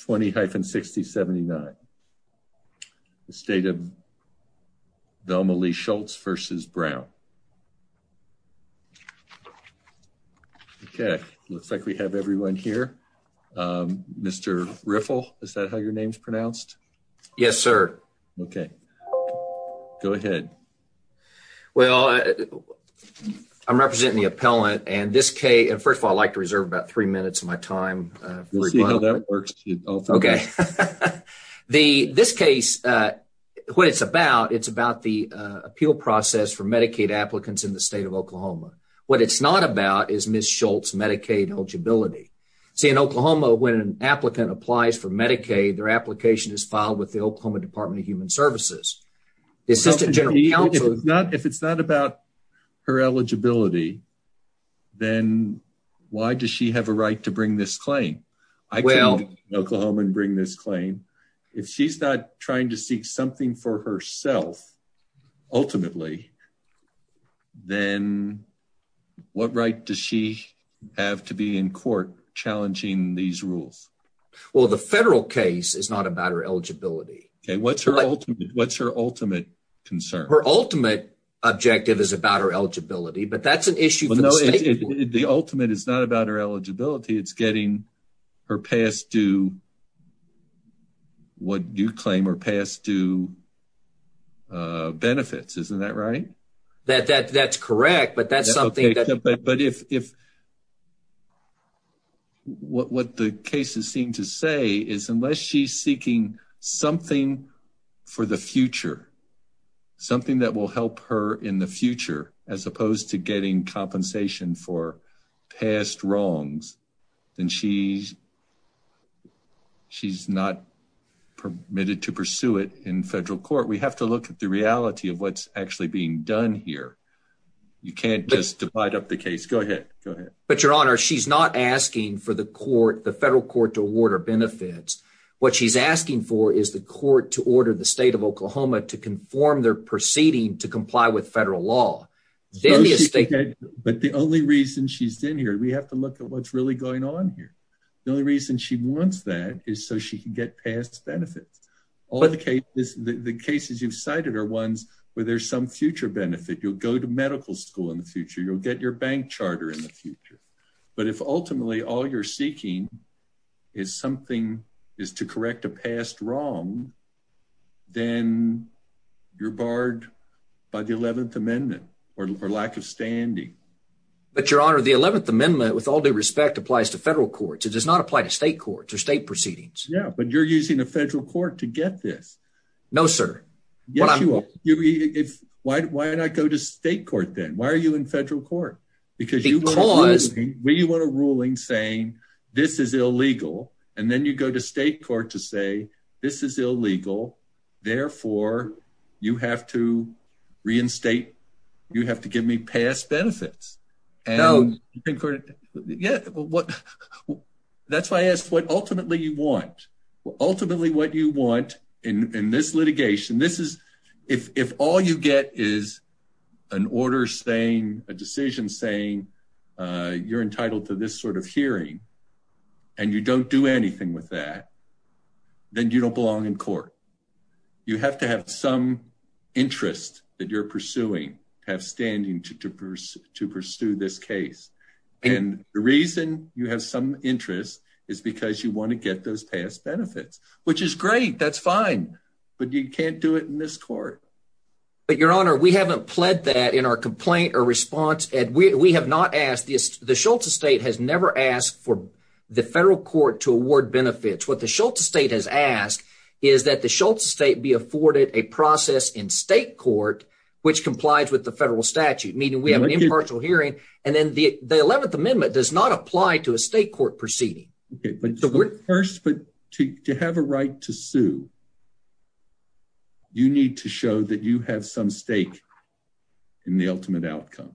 20-60-79. The State of Velma Lea Schultz v. Brown. Okay, looks like we have everyone here. Mr. Riffle, is that how your name's pronounced? Yes, sir. Okay, go ahead. Well, I'm representing the appellant and this K, and first of all, I'd like to reserve about three minutes of my time. We'll see how that works. Okay, this case, what it's about, it's about the appeal process for Medicaid applicants in the State of Oklahoma. What it's not about is Ms. Schultz's Medicaid eligibility. See, in Oklahoma, when an applicant applies for Medicaid, their application is filed with the Oklahoma Department of Human Services. The Assistant General Counsel... If it's not about her eligibility, then why does she have a right to bring this claim? I came to Oklahoma and bring this claim. If she's not trying to seek something for herself, ultimately, then what right does she have to be in court challenging these rules? Well, the federal case is not about her eligibility. Okay, what's her ultimate concern? Her ultimate objective is about her eligibility, but that's an issue for the State of Oklahoma. The ultimate is not about her eligibility. It's getting her past due, what you claim, her past due benefits. Isn't that right? That's correct, but that's something that... Okay, but what the cases seem to say is unless she's seeking something for the future, something that will help her in the future, as opposed to getting compensation for past wrongs, then she's not permitted to pursue it in federal court. We have to look at the reality of what's actually being done here. You can't just divide up the case. Go ahead. Go ahead. But, Your Honor, she's not asking for the federal court to award her benefits. What she's asking for is the court to order the State of Oklahoma to conform their proceeding to comply with federal law. But the only reason she's in here, we have to look at what's really going on here. The only reason she wants that is so she can get past benefits. The cases you've cited are ones where there's some future benefit. You'll go to medical school in the future. You'll get your charter in the future. But if ultimately all you're seeking is something is to correct a past wrong, then you're barred by the 11th Amendment or lack of standing. But, Your Honor, the 11th Amendment, with all due respect, applies to federal courts. It does not apply to state courts or state proceedings. Yeah, but you're using a federal court to get this. No, sir. Yes, you are. Why not go to state court then? Why are you in federal court? Because we want a ruling saying this is illegal. And then you go to state court to say this is illegal. Therefore, you have to reinstate. You have to give me past benefits. No. That's why I asked what ultimately you want. Ultimately, what you want in this litigation, if all you get is an order saying, a decision saying you're entitled to this sort of hearing and you don't do anything with that, then you don't belong in court. You have to have some to pursue this case. And the reason you have some interest is because you want to get those past benefits, which is great. That's fine. But you can't do it in this court. But, Your Honor, we haven't pled that in our complaint or response. And we have not asked this. The Shultz estate has never asked for the federal court to award benefits. What the Shultz estate has asked is that the Shultz estate be afforded a process in state court which complies with the impartial hearing. And then the 11th Amendment does not apply to a state court proceeding. Okay. But first, but to have a right to sue, you need to show that you have some stake in the ultimate outcome.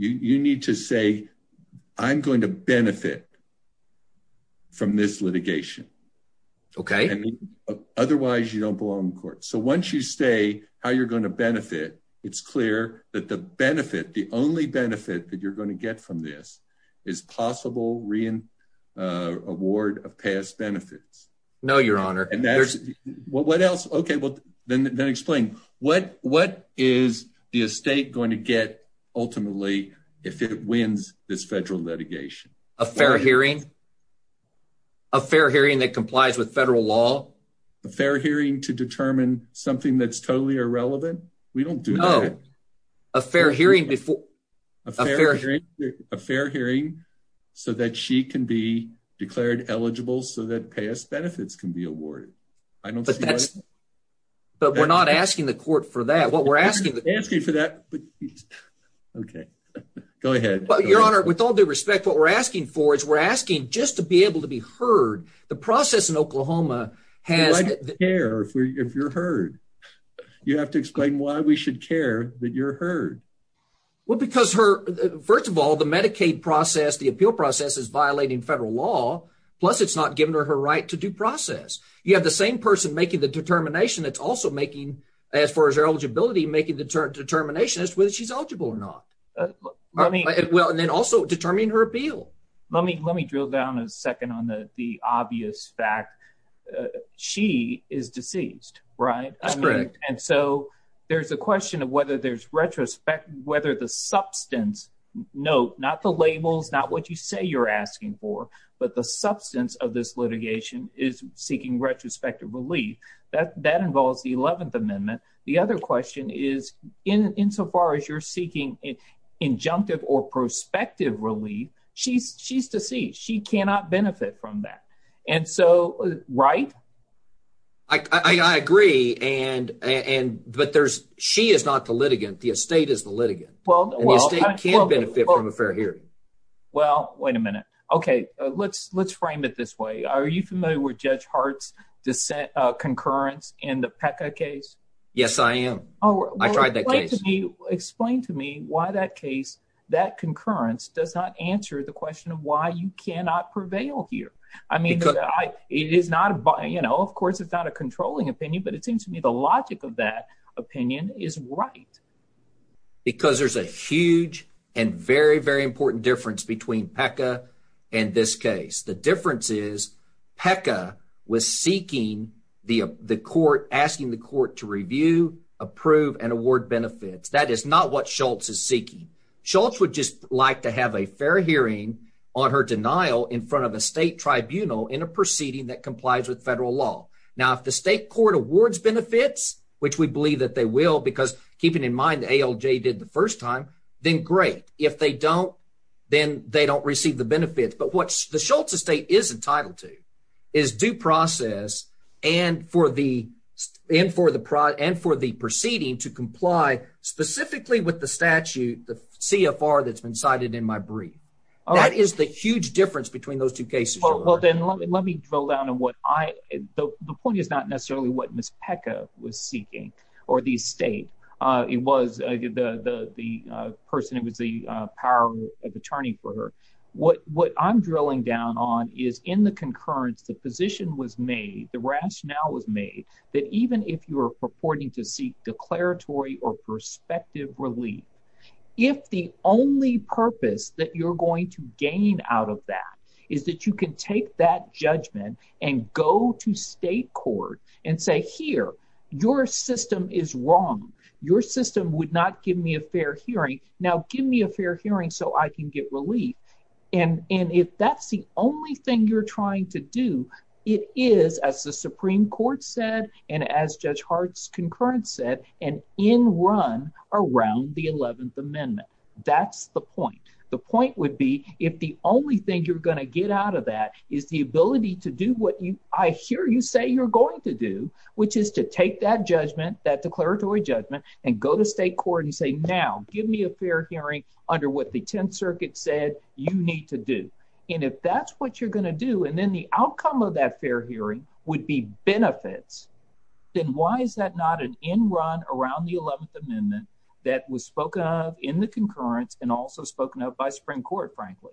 You need to say, I'm going to benefit from this litigation. Okay. Otherwise, you don't belong in court. So once you say how you're going to benefit, it's clear that the benefit, the only benefit that you're going to get from this is possible re-award of past benefits. No, Your Honor. What else? Okay. Well, then explain. What is the estate going to get ultimately if it wins this federal litigation? A fair hearing. A fair hearing that complies with federal law. A fair hearing to determine something that's totally irrelevant. We don't do that. No. A fair hearing before... A fair hearing so that she can be declared eligible so that past benefits can be awarded. I don't see why... But we're not asking the court for that. What we're asking... We're not asking for that, but... Okay. Go ahead. Your Honor, with all due respect, what we're asking for is we're asking just to be able to heard. The process in Oklahoma has... Why do you care if you're heard? You have to explain why we should care that you're heard. Well, because her... First of all, the Medicaid process, the appeal process is violating federal law, plus it's not giving her her right to due process. You have the same person making the determination that's also making, as far as her eligibility, making the determination as to whether she's eligible or not. Well, and then also determining her appeal. Let me drill down a second on the obvious fact. She is deceased, right? That's correct. And so there's a question of whether there's retrospect... Whether the substance... Note, not the labels, not what you say you're asking for, but the substance of this litigation is seeking retrospective relief. That involves the 11th Amendment. The other question is, insofar as you're seeking injunctive or prospective relief, she's deceased. She cannot benefit from that. And so, right? I agree, but she is not the litigant. The estate is the litigant. Well, well... And the estate can benefit from a fair hearing. Well, wait a minute. Okay, let's frame it this way. Are you familiar with Judge Hart's dissent concurrence in the PECA case? Yes, I am. I tried that case. Explain to me why that case, that concurrence does not answer the question of why you cannot prevail here. I mean, it is not a... Of course, it's not a controlling opinion, but it seems to me the logic of that opinion is right. Because there's a huge and very, very important difference between PECA and this case. The difference is, PECA was seeking the court, asking the court to review, approve, and award benefits. That is not what Schultz is seeking. Schultz would just like to have a fair hearing on her denial in front of a state tribunal in a proceeding that complies with federal law. Now, if the state court awards benefits, which we believe that they will, because keeping in mind the ALJ did the first time, then great. If they don't, then they don't receive the benefits. But what the Schultz estate is entitled to is due process and for the proceeding to comply specifically with the statute, the CFR that's been cited in my brief. That is the huge difference between those two cases. Well, then let me drill down on what I... The point is not necessarily what Ms. PECA was seeking or the state. It was the person, it was the power of attorney for her. What I'm drilling down on is in the concurrence, the position was made, the rationale was made that even if you were purporting to seek declaratory or prospective relief, if the only purpose that you're going to gain out of that is that you can take that judgment and go to state court and say, here, your system is wrong. Your system would not give me a fair hearing. Now, give me a fair hearing so I can get relief. And if that's the only thing you're trying to do, it is, as the Supreme Court said, and as Judge Hart's concurrence said, an in run around the 11th Amendment. That's the point. The point would be if the only thing you're going to get out of that is the ability to do what I hear you say you're going to do, which is to take that judgment, that declaratory judgment, and go to state court and say, now, give me a fair hearing under what the 10th Circuit said you need to do. And if that's what you're going to do, and then the outcome of that fair hearing would be benefits, then why is that not an in run around the 11th Amendment that was spoken of in the concurrence and also spoken of by Supreme Court, frankly?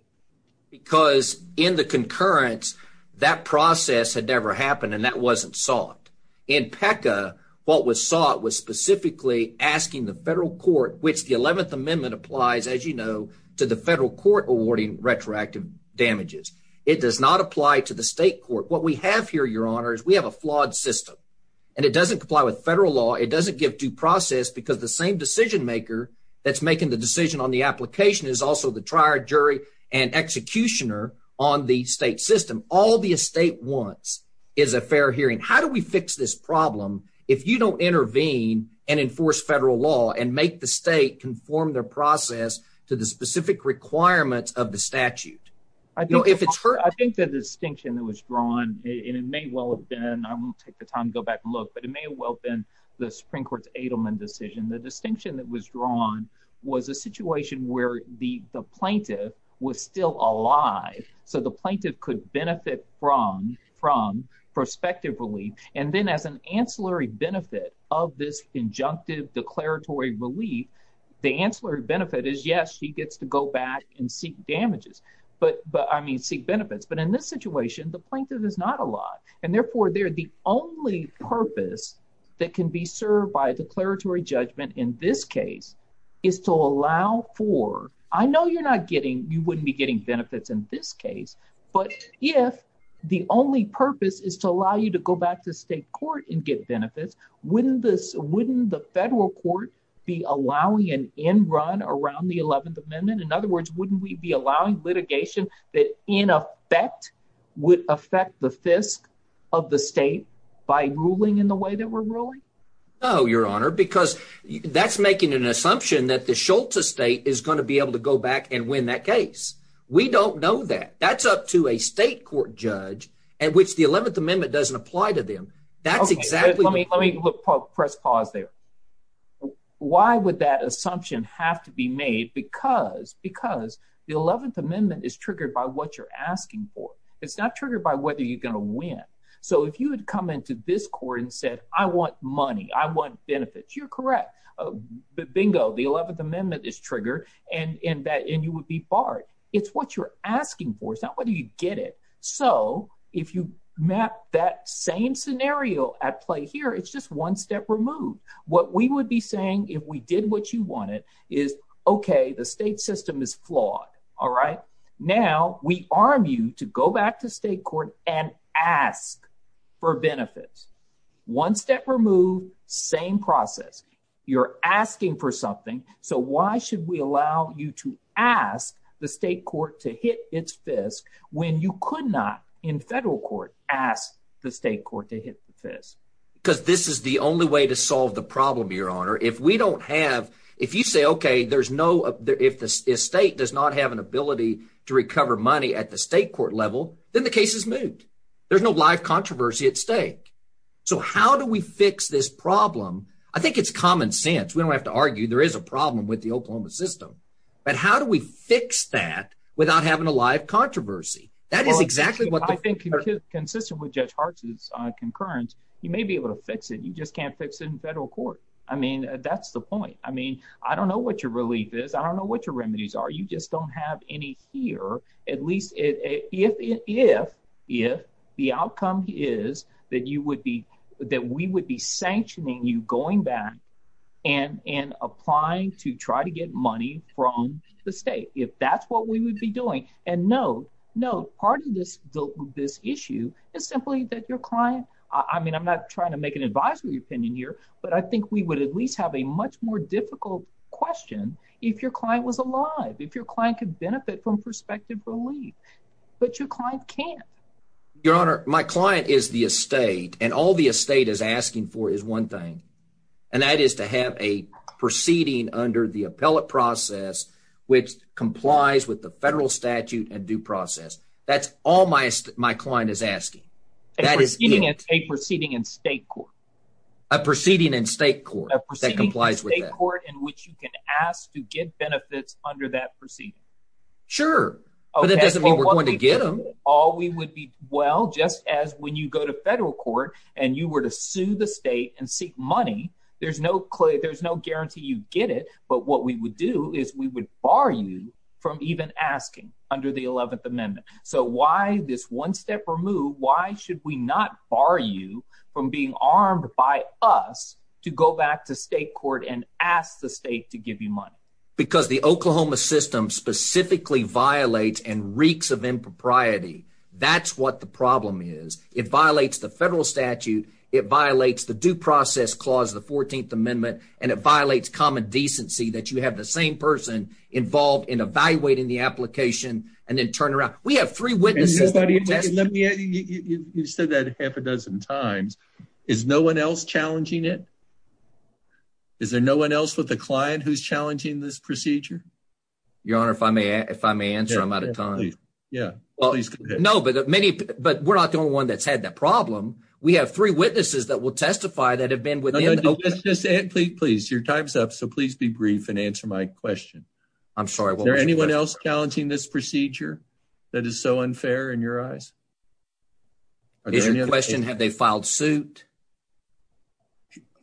Because in the concurrence, that process had never happened, and that wasn't sought. In PECA, what was sought was specifically asking the federal court, which the 11th Amendment applies, as you know, to the federal court awarding retroactive damages. It does not apply to the state court. What we have here, your honor, is we have a flawed system, and it doesn't comply with federal law. It doesn't give due process because the same decision maker that's making the decision on the application is also the trier, jury, and executioner on the state system. All the estate wants is a fair hearing. How do we fix this problem if you don't intervene and enforce federal law and make the state conform their process to the specific requirements of the statute? I think the distinction that was drawn, and it may well have been, I won't take the time to go back and look, but it may well have been the Supreme Court's Adelman decision. The distinction that was drawn was a situation where the plaintiff was still alive, so the plaintiff could benefit from prospective relief, and then as an ancillary benefit of this injunctive declaratory relief, the ancillary benefit is, yes, she gets to go back and seek benefits, but in this situation, the plaintiff is not alive, and therefore, they're the only purpose that can be served by a declaratory judgment in this case is to allow for, I know you're not getting, you wouldn't be getting benefits in this case, but if the only purpose is to allow you to go back to state court and get benefits, wouldn't the federal court be allowing an end run around the 11th Amendment? In other words, wouldn't we be allowing litigation that, in effect, would affect the fisc of the state by ruling in the way that we're ruling? No, Your Honor, because that's making an assumption that the Scholta state is going to be able to go back and win that case. We don't know that. That's up to a state court judge, and which the 11th Amendment doesn't apply to them. That's exactly- Let me press pause there. Why would that assumption have to be made? Because the 11th Amendment is triggered by what you're asking for. It's not triggered by whether you're going to win. If you had come into this court and said, I want money, I want benefits, you're correct. Bingo. The 11th Amendment is triggered, and you would be barred. It's what you're asking for. It's not whether you get it. If you map that same scenario at play here, it's just one step removed. What we would be saying if we did what you wanted is, okay, the state system is flawed. Now, we arm you to go back to state court and ask for benefits. One step removed, same process. You're asking for something, so why should we allow you to ask the state court to hit its fist when you could not, in federal court, ask the state court to hit the fist? Because this is the only way to solve the problem, Your Honor. If we don't have- You say, okay, if the state does not have an ability to recover money at the state court level, then the case is moved. There's no live controversy at stake. How do we fix this problem? I think it's common sense. We don't have to argue. There is a problem with the Oklahoma system, but how do we fix that without having a live controversy? That is exactly what- I think consistent with Judge Hart's concurrence, you may be able to fix it. You just can't fix it in federal court. That's the point. I don't know what your relief is. I don't know what your remedies are. You just don't have any here, at least if the outcome is that we would be sanctioning you going back and applying to try to get money from the state, if that's what we would be doing. No, part of this issue is simply that your client- I'm not trying to make an advisory opinion here, but I think we would at least have a much more difficult question if your client was alive, if your client could benefit from prospective relief, but your client can't. Your Honor, my client is the estate, and all the estate is asking for is one thing, and that is to have a proceeding under the appellate process which complies with the federal statute and due process. That's all my client is asking. That is it. A proceeding in state court. A proceeding in state court that complies with that. A proceeding in state court in which you can ask to get benefits under that proceeding. Sure, but that doesn't mean we're going to get them. All we would be- well, just as when you go to federal court and you were to sue the state and seek money, there's no guarantee you get it, but what we would do is we would bar you from even asking under the 11th Amendment. So why this one-step remove? Why should we not bar you from being armed by us to go back to state court and ask the state to give you money? Because the Oklahoma system specifically violates and reeks of impropriety. That's what the problem is. It violates the federal statute, it violates the due process clause of the 14th Amendment, and it violates common decency that you have the same person involved in evaluating the application and then turn around. We have three witnesses- You've said that half a dozen times. Is no one else challenging it? Is there no one else with a client who's challenging this procedure? Your Honor, if I may answer, I'm out of time. No, but we're not the only one that's had that problem. We have three witnesses that will testify that have been within- Please, your time's up, so please be brief and answer my question. Is there anyone else challenging this procedure that is so unfair in your eyes? Is your question, have they filed suit?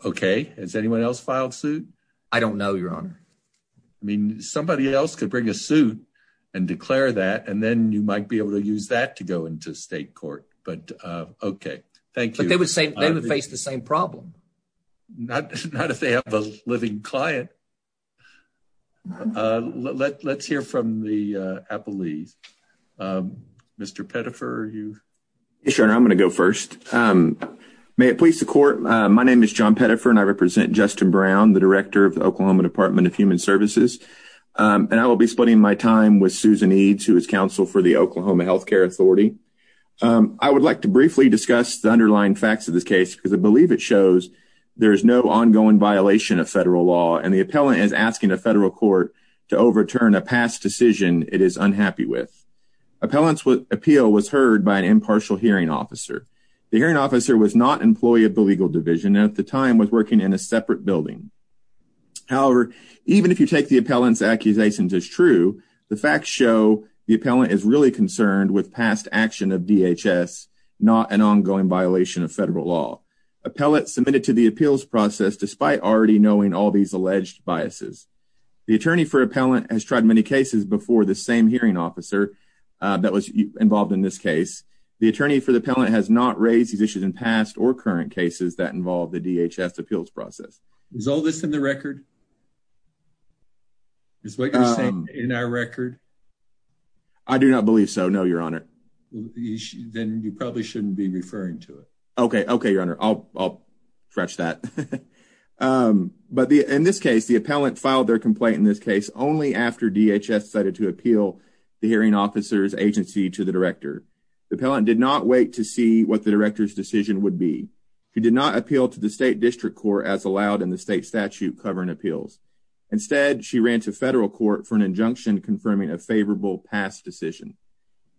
Okay, has anyone else filed suit? I don't know, your Honor. I mean, somebody else could bring a suit and declare that, and then you might be able to use that to go into state court, but okay, thank you. But they would face the same problem. Not if they have a living client. Okay, let's hear from the appellees. Mr. Pettifer, are you- Yes, your Honor, I'm going to go first. May it please the court, my name is John Pettifer, and I represent Justin Brown, the director of the Oklahoma Department of Human Services, and I will be splitting my time with Susan Eades, who is counsel for the Oklahoma Healthcare Authority. I would like to briefly discuss the underlying facts of this case, because I believe it shows there is no ongoing violation of federal law, and the appellant is asking a federal court to overturn a past decision it is unhappy with. Appellant's appeal was heard by an impartial hearing officer. The hearing officer was not an employee of the legal division, and at the time was working in a separate building. However, even if you take the appellant's accusations as true, the facts show the appellant is really concerned with past action of DHS, not an ongoing violation of federal law. Appellant submitted to the appeals process despite already knowing all these alleged biases. The attorney for appellant has tried many cases before the same hearing officer that was involved in this case. The attorney for the appellant has not raised these issues in past or current cases that involve the DHS appeals process. Is all this in the record? Is what you're saying in our record? I do not believe so, no, your Honor. You should then you probably shouldn't be referring to it. Okay, okay, your Honor. I'll stretch that. But in this case, the appellant filed their complaint in this case only after DHS decided to appeal the hearing officer's agency to the director. The appellant did not wait to see what the director's decision would be. He did not appeal to the state district court as allowed in the state statute covering appeals. Instead, she ran to federal court for an injunction confirming a favorable past decision.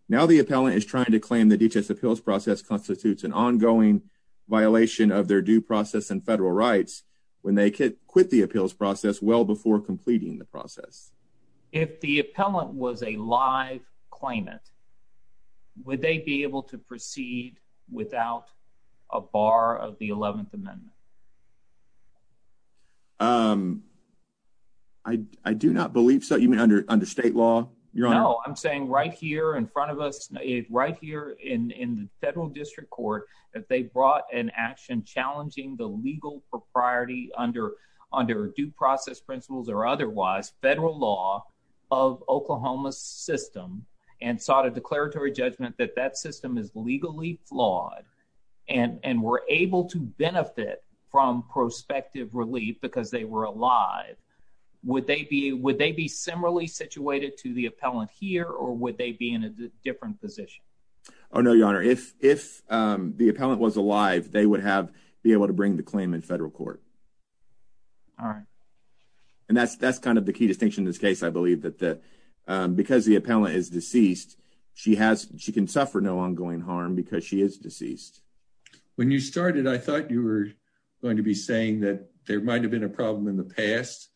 Now the appellant is trying to claim the DHS appeals process constitutes an ongoing violation of their due process and federal rights when they quit the appeals process well before completing the process. If the appellant was a live claimant, would they be able to proceed without a bar of the 11th Amendment? I do not believe so. You mean under under state law? No, I'm saying right here in front of us, right here in in the federal district court that they brought an action challenging the legal propriety under under due process principles or otherwise federal law of Oklahoma's system and sought a declaratory judgment that that system is legally flawed and and were able to benefit from prospective relief because they were alive. Would they be would they be similarly situated to the appellant here or would they be in a different position? Oh no, your honor. If if the appellant was alive, they would have be able to bring the claim in federal court. All right. And that's that's kind of the key distinction in this case. I believe that the because the appellant is deceased, she has she can suffer no ongoing harm because she is deceased. When you started, I thought you were going to be saying that there might have been a problem in the past,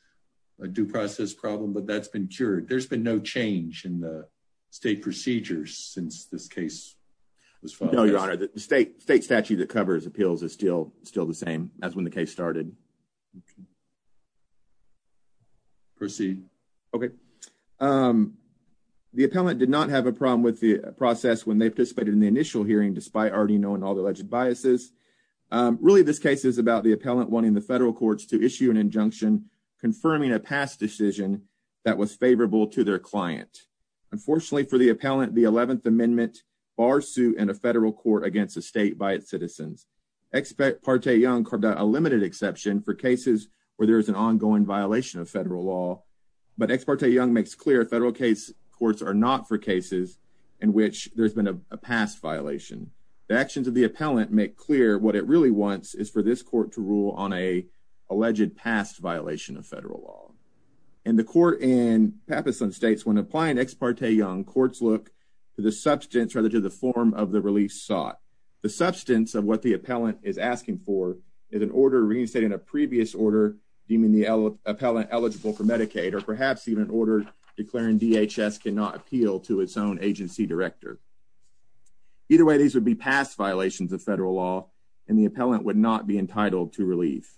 a due process problem, but that's been cured. There's been no change in the state procedures since this case was filed. No, your honor, the state state statute that covers appeals is still still the same as when the case started. Proceed. Okay. The appellant did not have a problem with process when they participated in the initial hearing, despite already knowing all the alleged biases. Really, this case is about the appellant wanting the federal courts to issue an injunction confirming a past decision that was favorable to their client. Unfortunately, for the appellant, the 11th Amendment bar suit in a federal court against a state by its citizens. Ex parte Young, a limited exception for cases where there is an ongoing violation of federal law. But Ex parte Young makes clear federal case courts are not for cases in which there's been a past violation. The actions of the appellant make clear what it really wants is for this court to rule on a alleged past violation of federal law. And the court in Pappas and states when applying Ex parte Young courts look to the substance rather to the form of the release sought. The substance of what the appellant is asking for is an order reinstating a previous order deeming the appellant eligible for Medicaid or perhaps even an order declaring DHS cannot appeal to its own agency director. Either way, these would be past violations of federal law and the appellant would not be entitled to relief.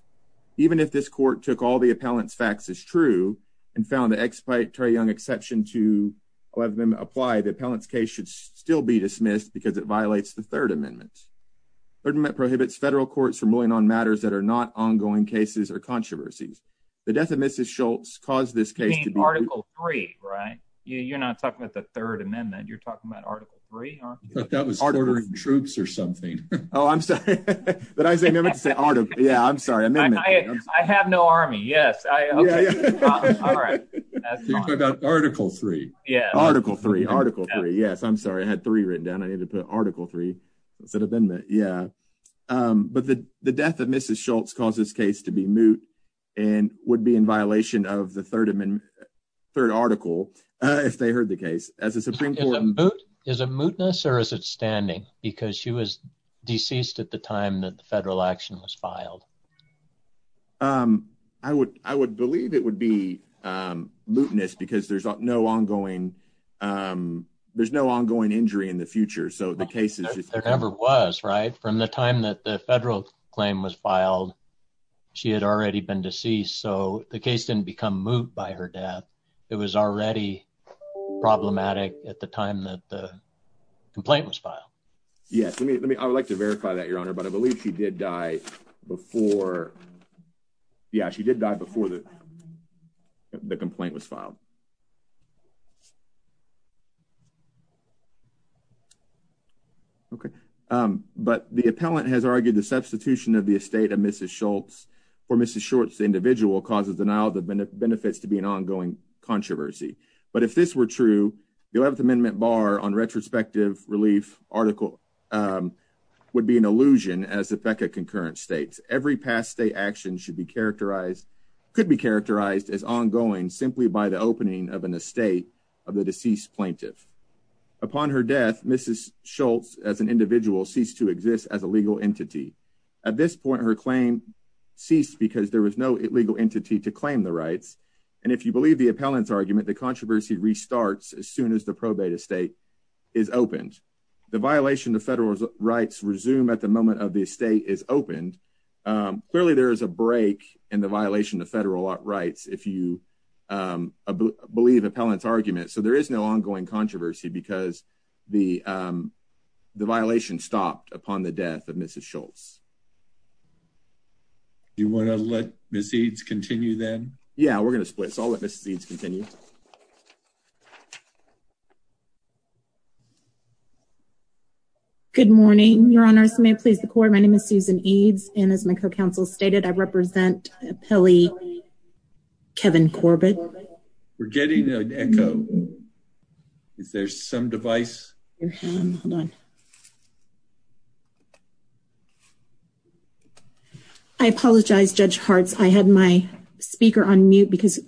Even if this court took all the appellant's facts as true and found the Ex parte Young exception to 11th Amendment apply, the appellant's case should still be dismissed because it violates the 3rd Amendment. 3rd Amendment prohibits federal courts from ruling on matters that are not ongoing cases or controversies. The death of Mrs. Schultz caused this case to be Article 3, right? You're not talking about the 3rd Amendment. You're talking about Article 3, aren't you? That was ordering troops or something. Oh, I'm sorry. But I say never to say article. Yeah, I'm sorry. I mean, I have no army. Yes. All right. Article 3. Yeah. Article 3. Article 3. Yes. I'm sorry. I had 3 written down. I need to put Article 3. Yeah. But the death of Mrs. Schultz caused this case to be moot and would be in violation of the 3rd Article if they heard the case. Is it mootness or is it standing? Because she was deceased at the time that the federal action was filed. I would believe it would be mootness because there's no ongoing injury in the future. So the from the time that the federal claim was filed, she had already been deceased. So the case didn't become moot by her death. It was already problematic at the time that the complaint was filed. Yes. I would like to verify that, Your Honor. But I believe she did die before. Yeah, but the appellant has argued the substitution of the estate of Mrs. Schultz for Mrs. Schultz individual causes denial of the benefits to be an ongoing controversy. But if this were true, the 11th Amendment Bar on Retrospective Relief Article would be an illusion as the BECA concurrence states. Every past state action should be characterized, could be characterized as ongoing simply by the opening of an estate of the deceased plaintiff. Upon her death, Mrs. Schultz as an individual ceased to exist as a legal entity. At this point, her claim ceased because there was no legal entity to claim the rights. And if you believe the appellant's argument, the controversy restarts as soon as the probate estate is opened. The violation of federal rights resume at the moment of the estate is opened. Clearly, there is a break in the violation of federal rights if you believe appellant's argument. So there is no ongoing controversy because the violation stopped upon the death of Mrs. Schultz. Do you want to let Ms. Eads continue then? Yeah, we're going to split. So I'll let Ms. Eads continue. Good morning, your honors. May it please the court. My name is Susan Eads, and as my co-counsel stated, I represent appellee Kevin Corbett. We're getting an echo. Is there some device? Hold on. I apologize, Judge Hartz. I had my speaker on mute because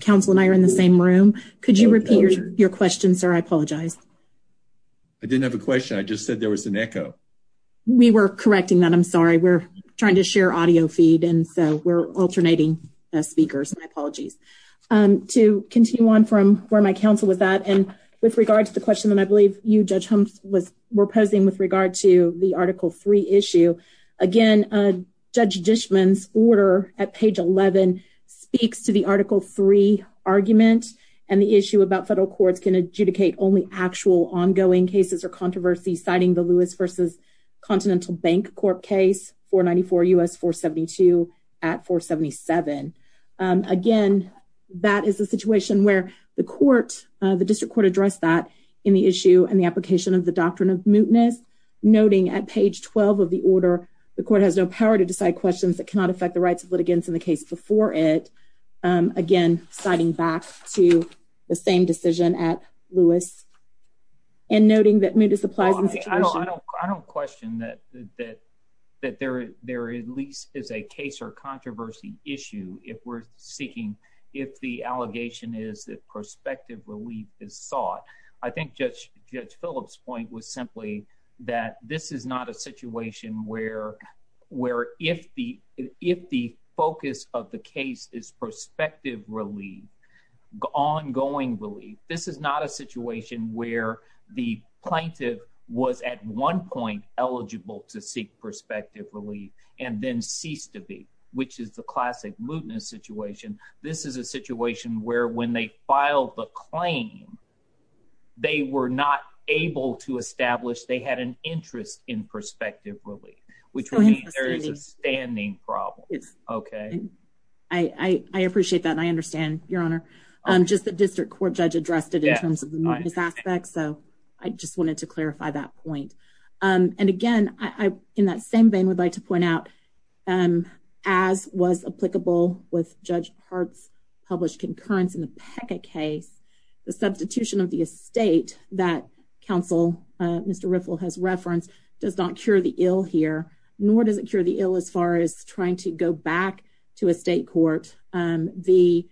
counsel and I are in the same room. Could you repeat your question, sir? I apologize. I didn't have a question. I just said there was an echo. We were correcting that. I'm sorry. We're trying to share audio feed, and so we're to continue on from where my counsel was at. And with regard to the question that I believe you, Judge Humphrey, were posing with regard to the Article III issue, again, Judge Dishman's order at page 11 speaks to the Article III argument and the issue about federal courts can adjudicate only actual ongoing cases or controversy, citing the Lewis v. Continental Bank Corp case, 494 U.S. 472 at 477. Again, that is a situation where the district court addressed that in the issue and the application of the doctrine of mootness, noting at page 12 of the order the court has no power to decide questions that cannot affect the rights of litigants in the case before it, again, citing back to the same decision at Lewis and noting that mootness applies I don't question that there at least is a case or controversy issue if we're seeking, if the allegation is that prospective relief is sought. I think Judge Phillips' point was simply that this is not a situation where if the focus of the case is prospective relief, ongoing relief, this is not a situation where the plaintiff was at one point eligible to seek prospective relief and then ceased to be, which is the classic mootness situation. This is a situation where when they filed the claim, they were not able to establish they had an interest in prospective relief, which means there is a standing problem, okay? I appreciate that and I just the district court judge addressed it in terms of the mootness aspect, so I just wanted to clarify that point. And again, in that same vein, I would like to point out, as was applicable with Judge Hart's published concurrence in the PECA case, the substitution of the estate that counsel Mr. Riffle has referenced does not cure the ill here, nor does it cure the ill as far as trying to go back to a state court. The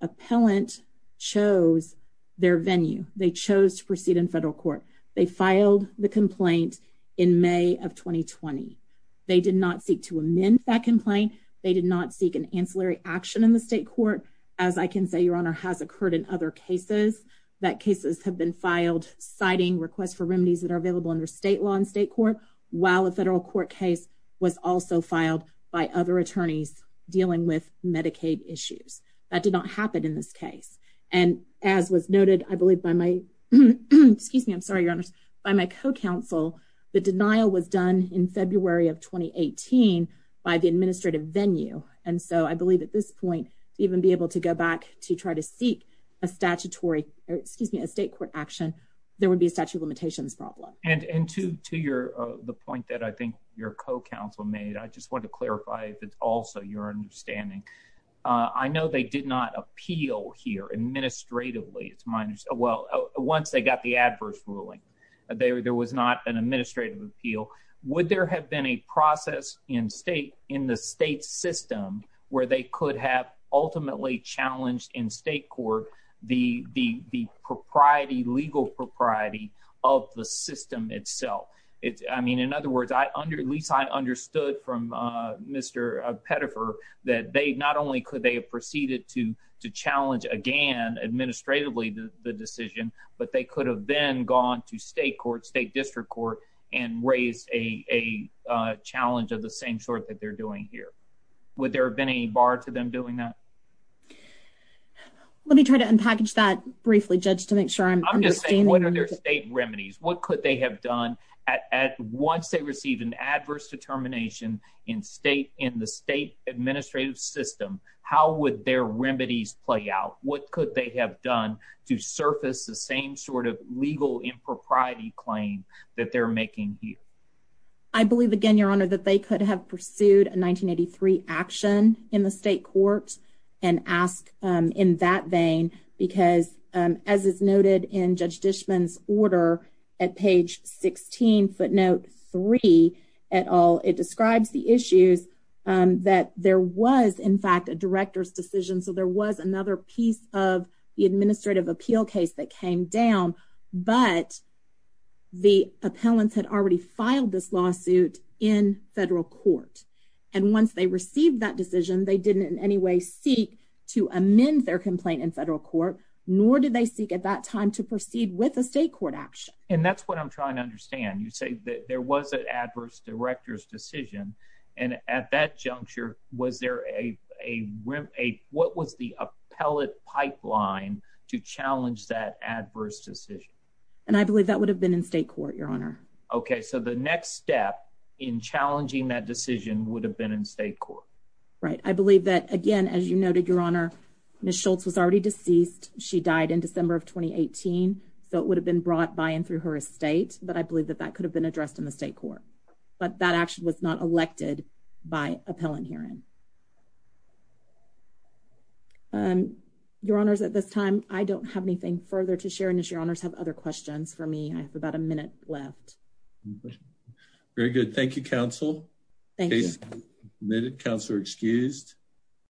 appellant chose their venue. They chose to proceed in federal court. They filed the complaint in May of 2020. They did not seek to amend that complaint. They did not seek an ancillary action in the state court. As I can say, Your Honor, has occurred in other cases that cases have been filed citing requests for remedies that are available under state law in state court, while a federal court case was also filed by other attorneys dealing with Medicaid issues. That did not happen in this case. And as was noted, I believe by my, excuse me, I'm sorry, Your Honor, by my co-counsel, the denial was done in February of 2018 by the administrative venue. And so I believe at this point, to even be able to go back to try to seek a statutory, excuse me, a state court action, there would be a statute of limitations problem. And to your, the point that I think your co-counsel made, I just want to clarify if it's also your understanding. I know they did not appeal here administratively. It's minus, well, once they got the adverse ruling, there was not an administrative appeal. Would there have been a process in state, in the state system where they could have ultimately challenged in state court the, the, the propriety, legal propriety of the system itself? It's, I mean, in other words, I under, at least I understood from Mr. Pettifer, that they not only could they have proceeded to, to challenge again, administratively, the decision, but they could have then gone to state court, state district court, and raised a, a challenge of the same sort that they're doing here. Would there have been a bar to them doing that? Let me try to unpackage that briefly, judge, to make sure I'm understanding. I'm just saying, what are their state remedies? What could they have done at, at once they received an adverse determination in state, in the state administrative system, how would their remedies play out? What could they have done to surface the same sort of legal impropriety claim that they're making here? I believe again, your honor, that they could have pursued a 1983 action in the state court and ask in that vein, because as is noted in judge Dishman's order at page 16 footnote three at all, it describes the issues that there was in fact a director's decision. So there was another piece of the administrative appeal case that came down, but the appellants had already filed this lawsuit in federal court. And once they received that decision, they didn't in any way seek to amend their complaint in federal court, nor did they seek at that time to proceed with a state court action. And that's what I'm trying to understand. You say that there was an adverse director's decision. And at that juncture, was there a, a, a, what was the appellate pipeline to challenge that adverse decision? And I believe that would have been in state court, your honor. Okay. So the next step in challenging that decision would have been in state court, right? I believe that again, as you noted, your honor, Ms. Schultz was already deceased. She died in December of 2018. So it would have been brought by and through her estate, but I believe that that could have been addressed in the state court, but that actually was not elected by appellant hearing. Um, your honors at this time, I don't have anything further to share in this. Your honors have other questions for me. I have about a minute left. Very good. Thank you. Council. Thank you. Councilor excused.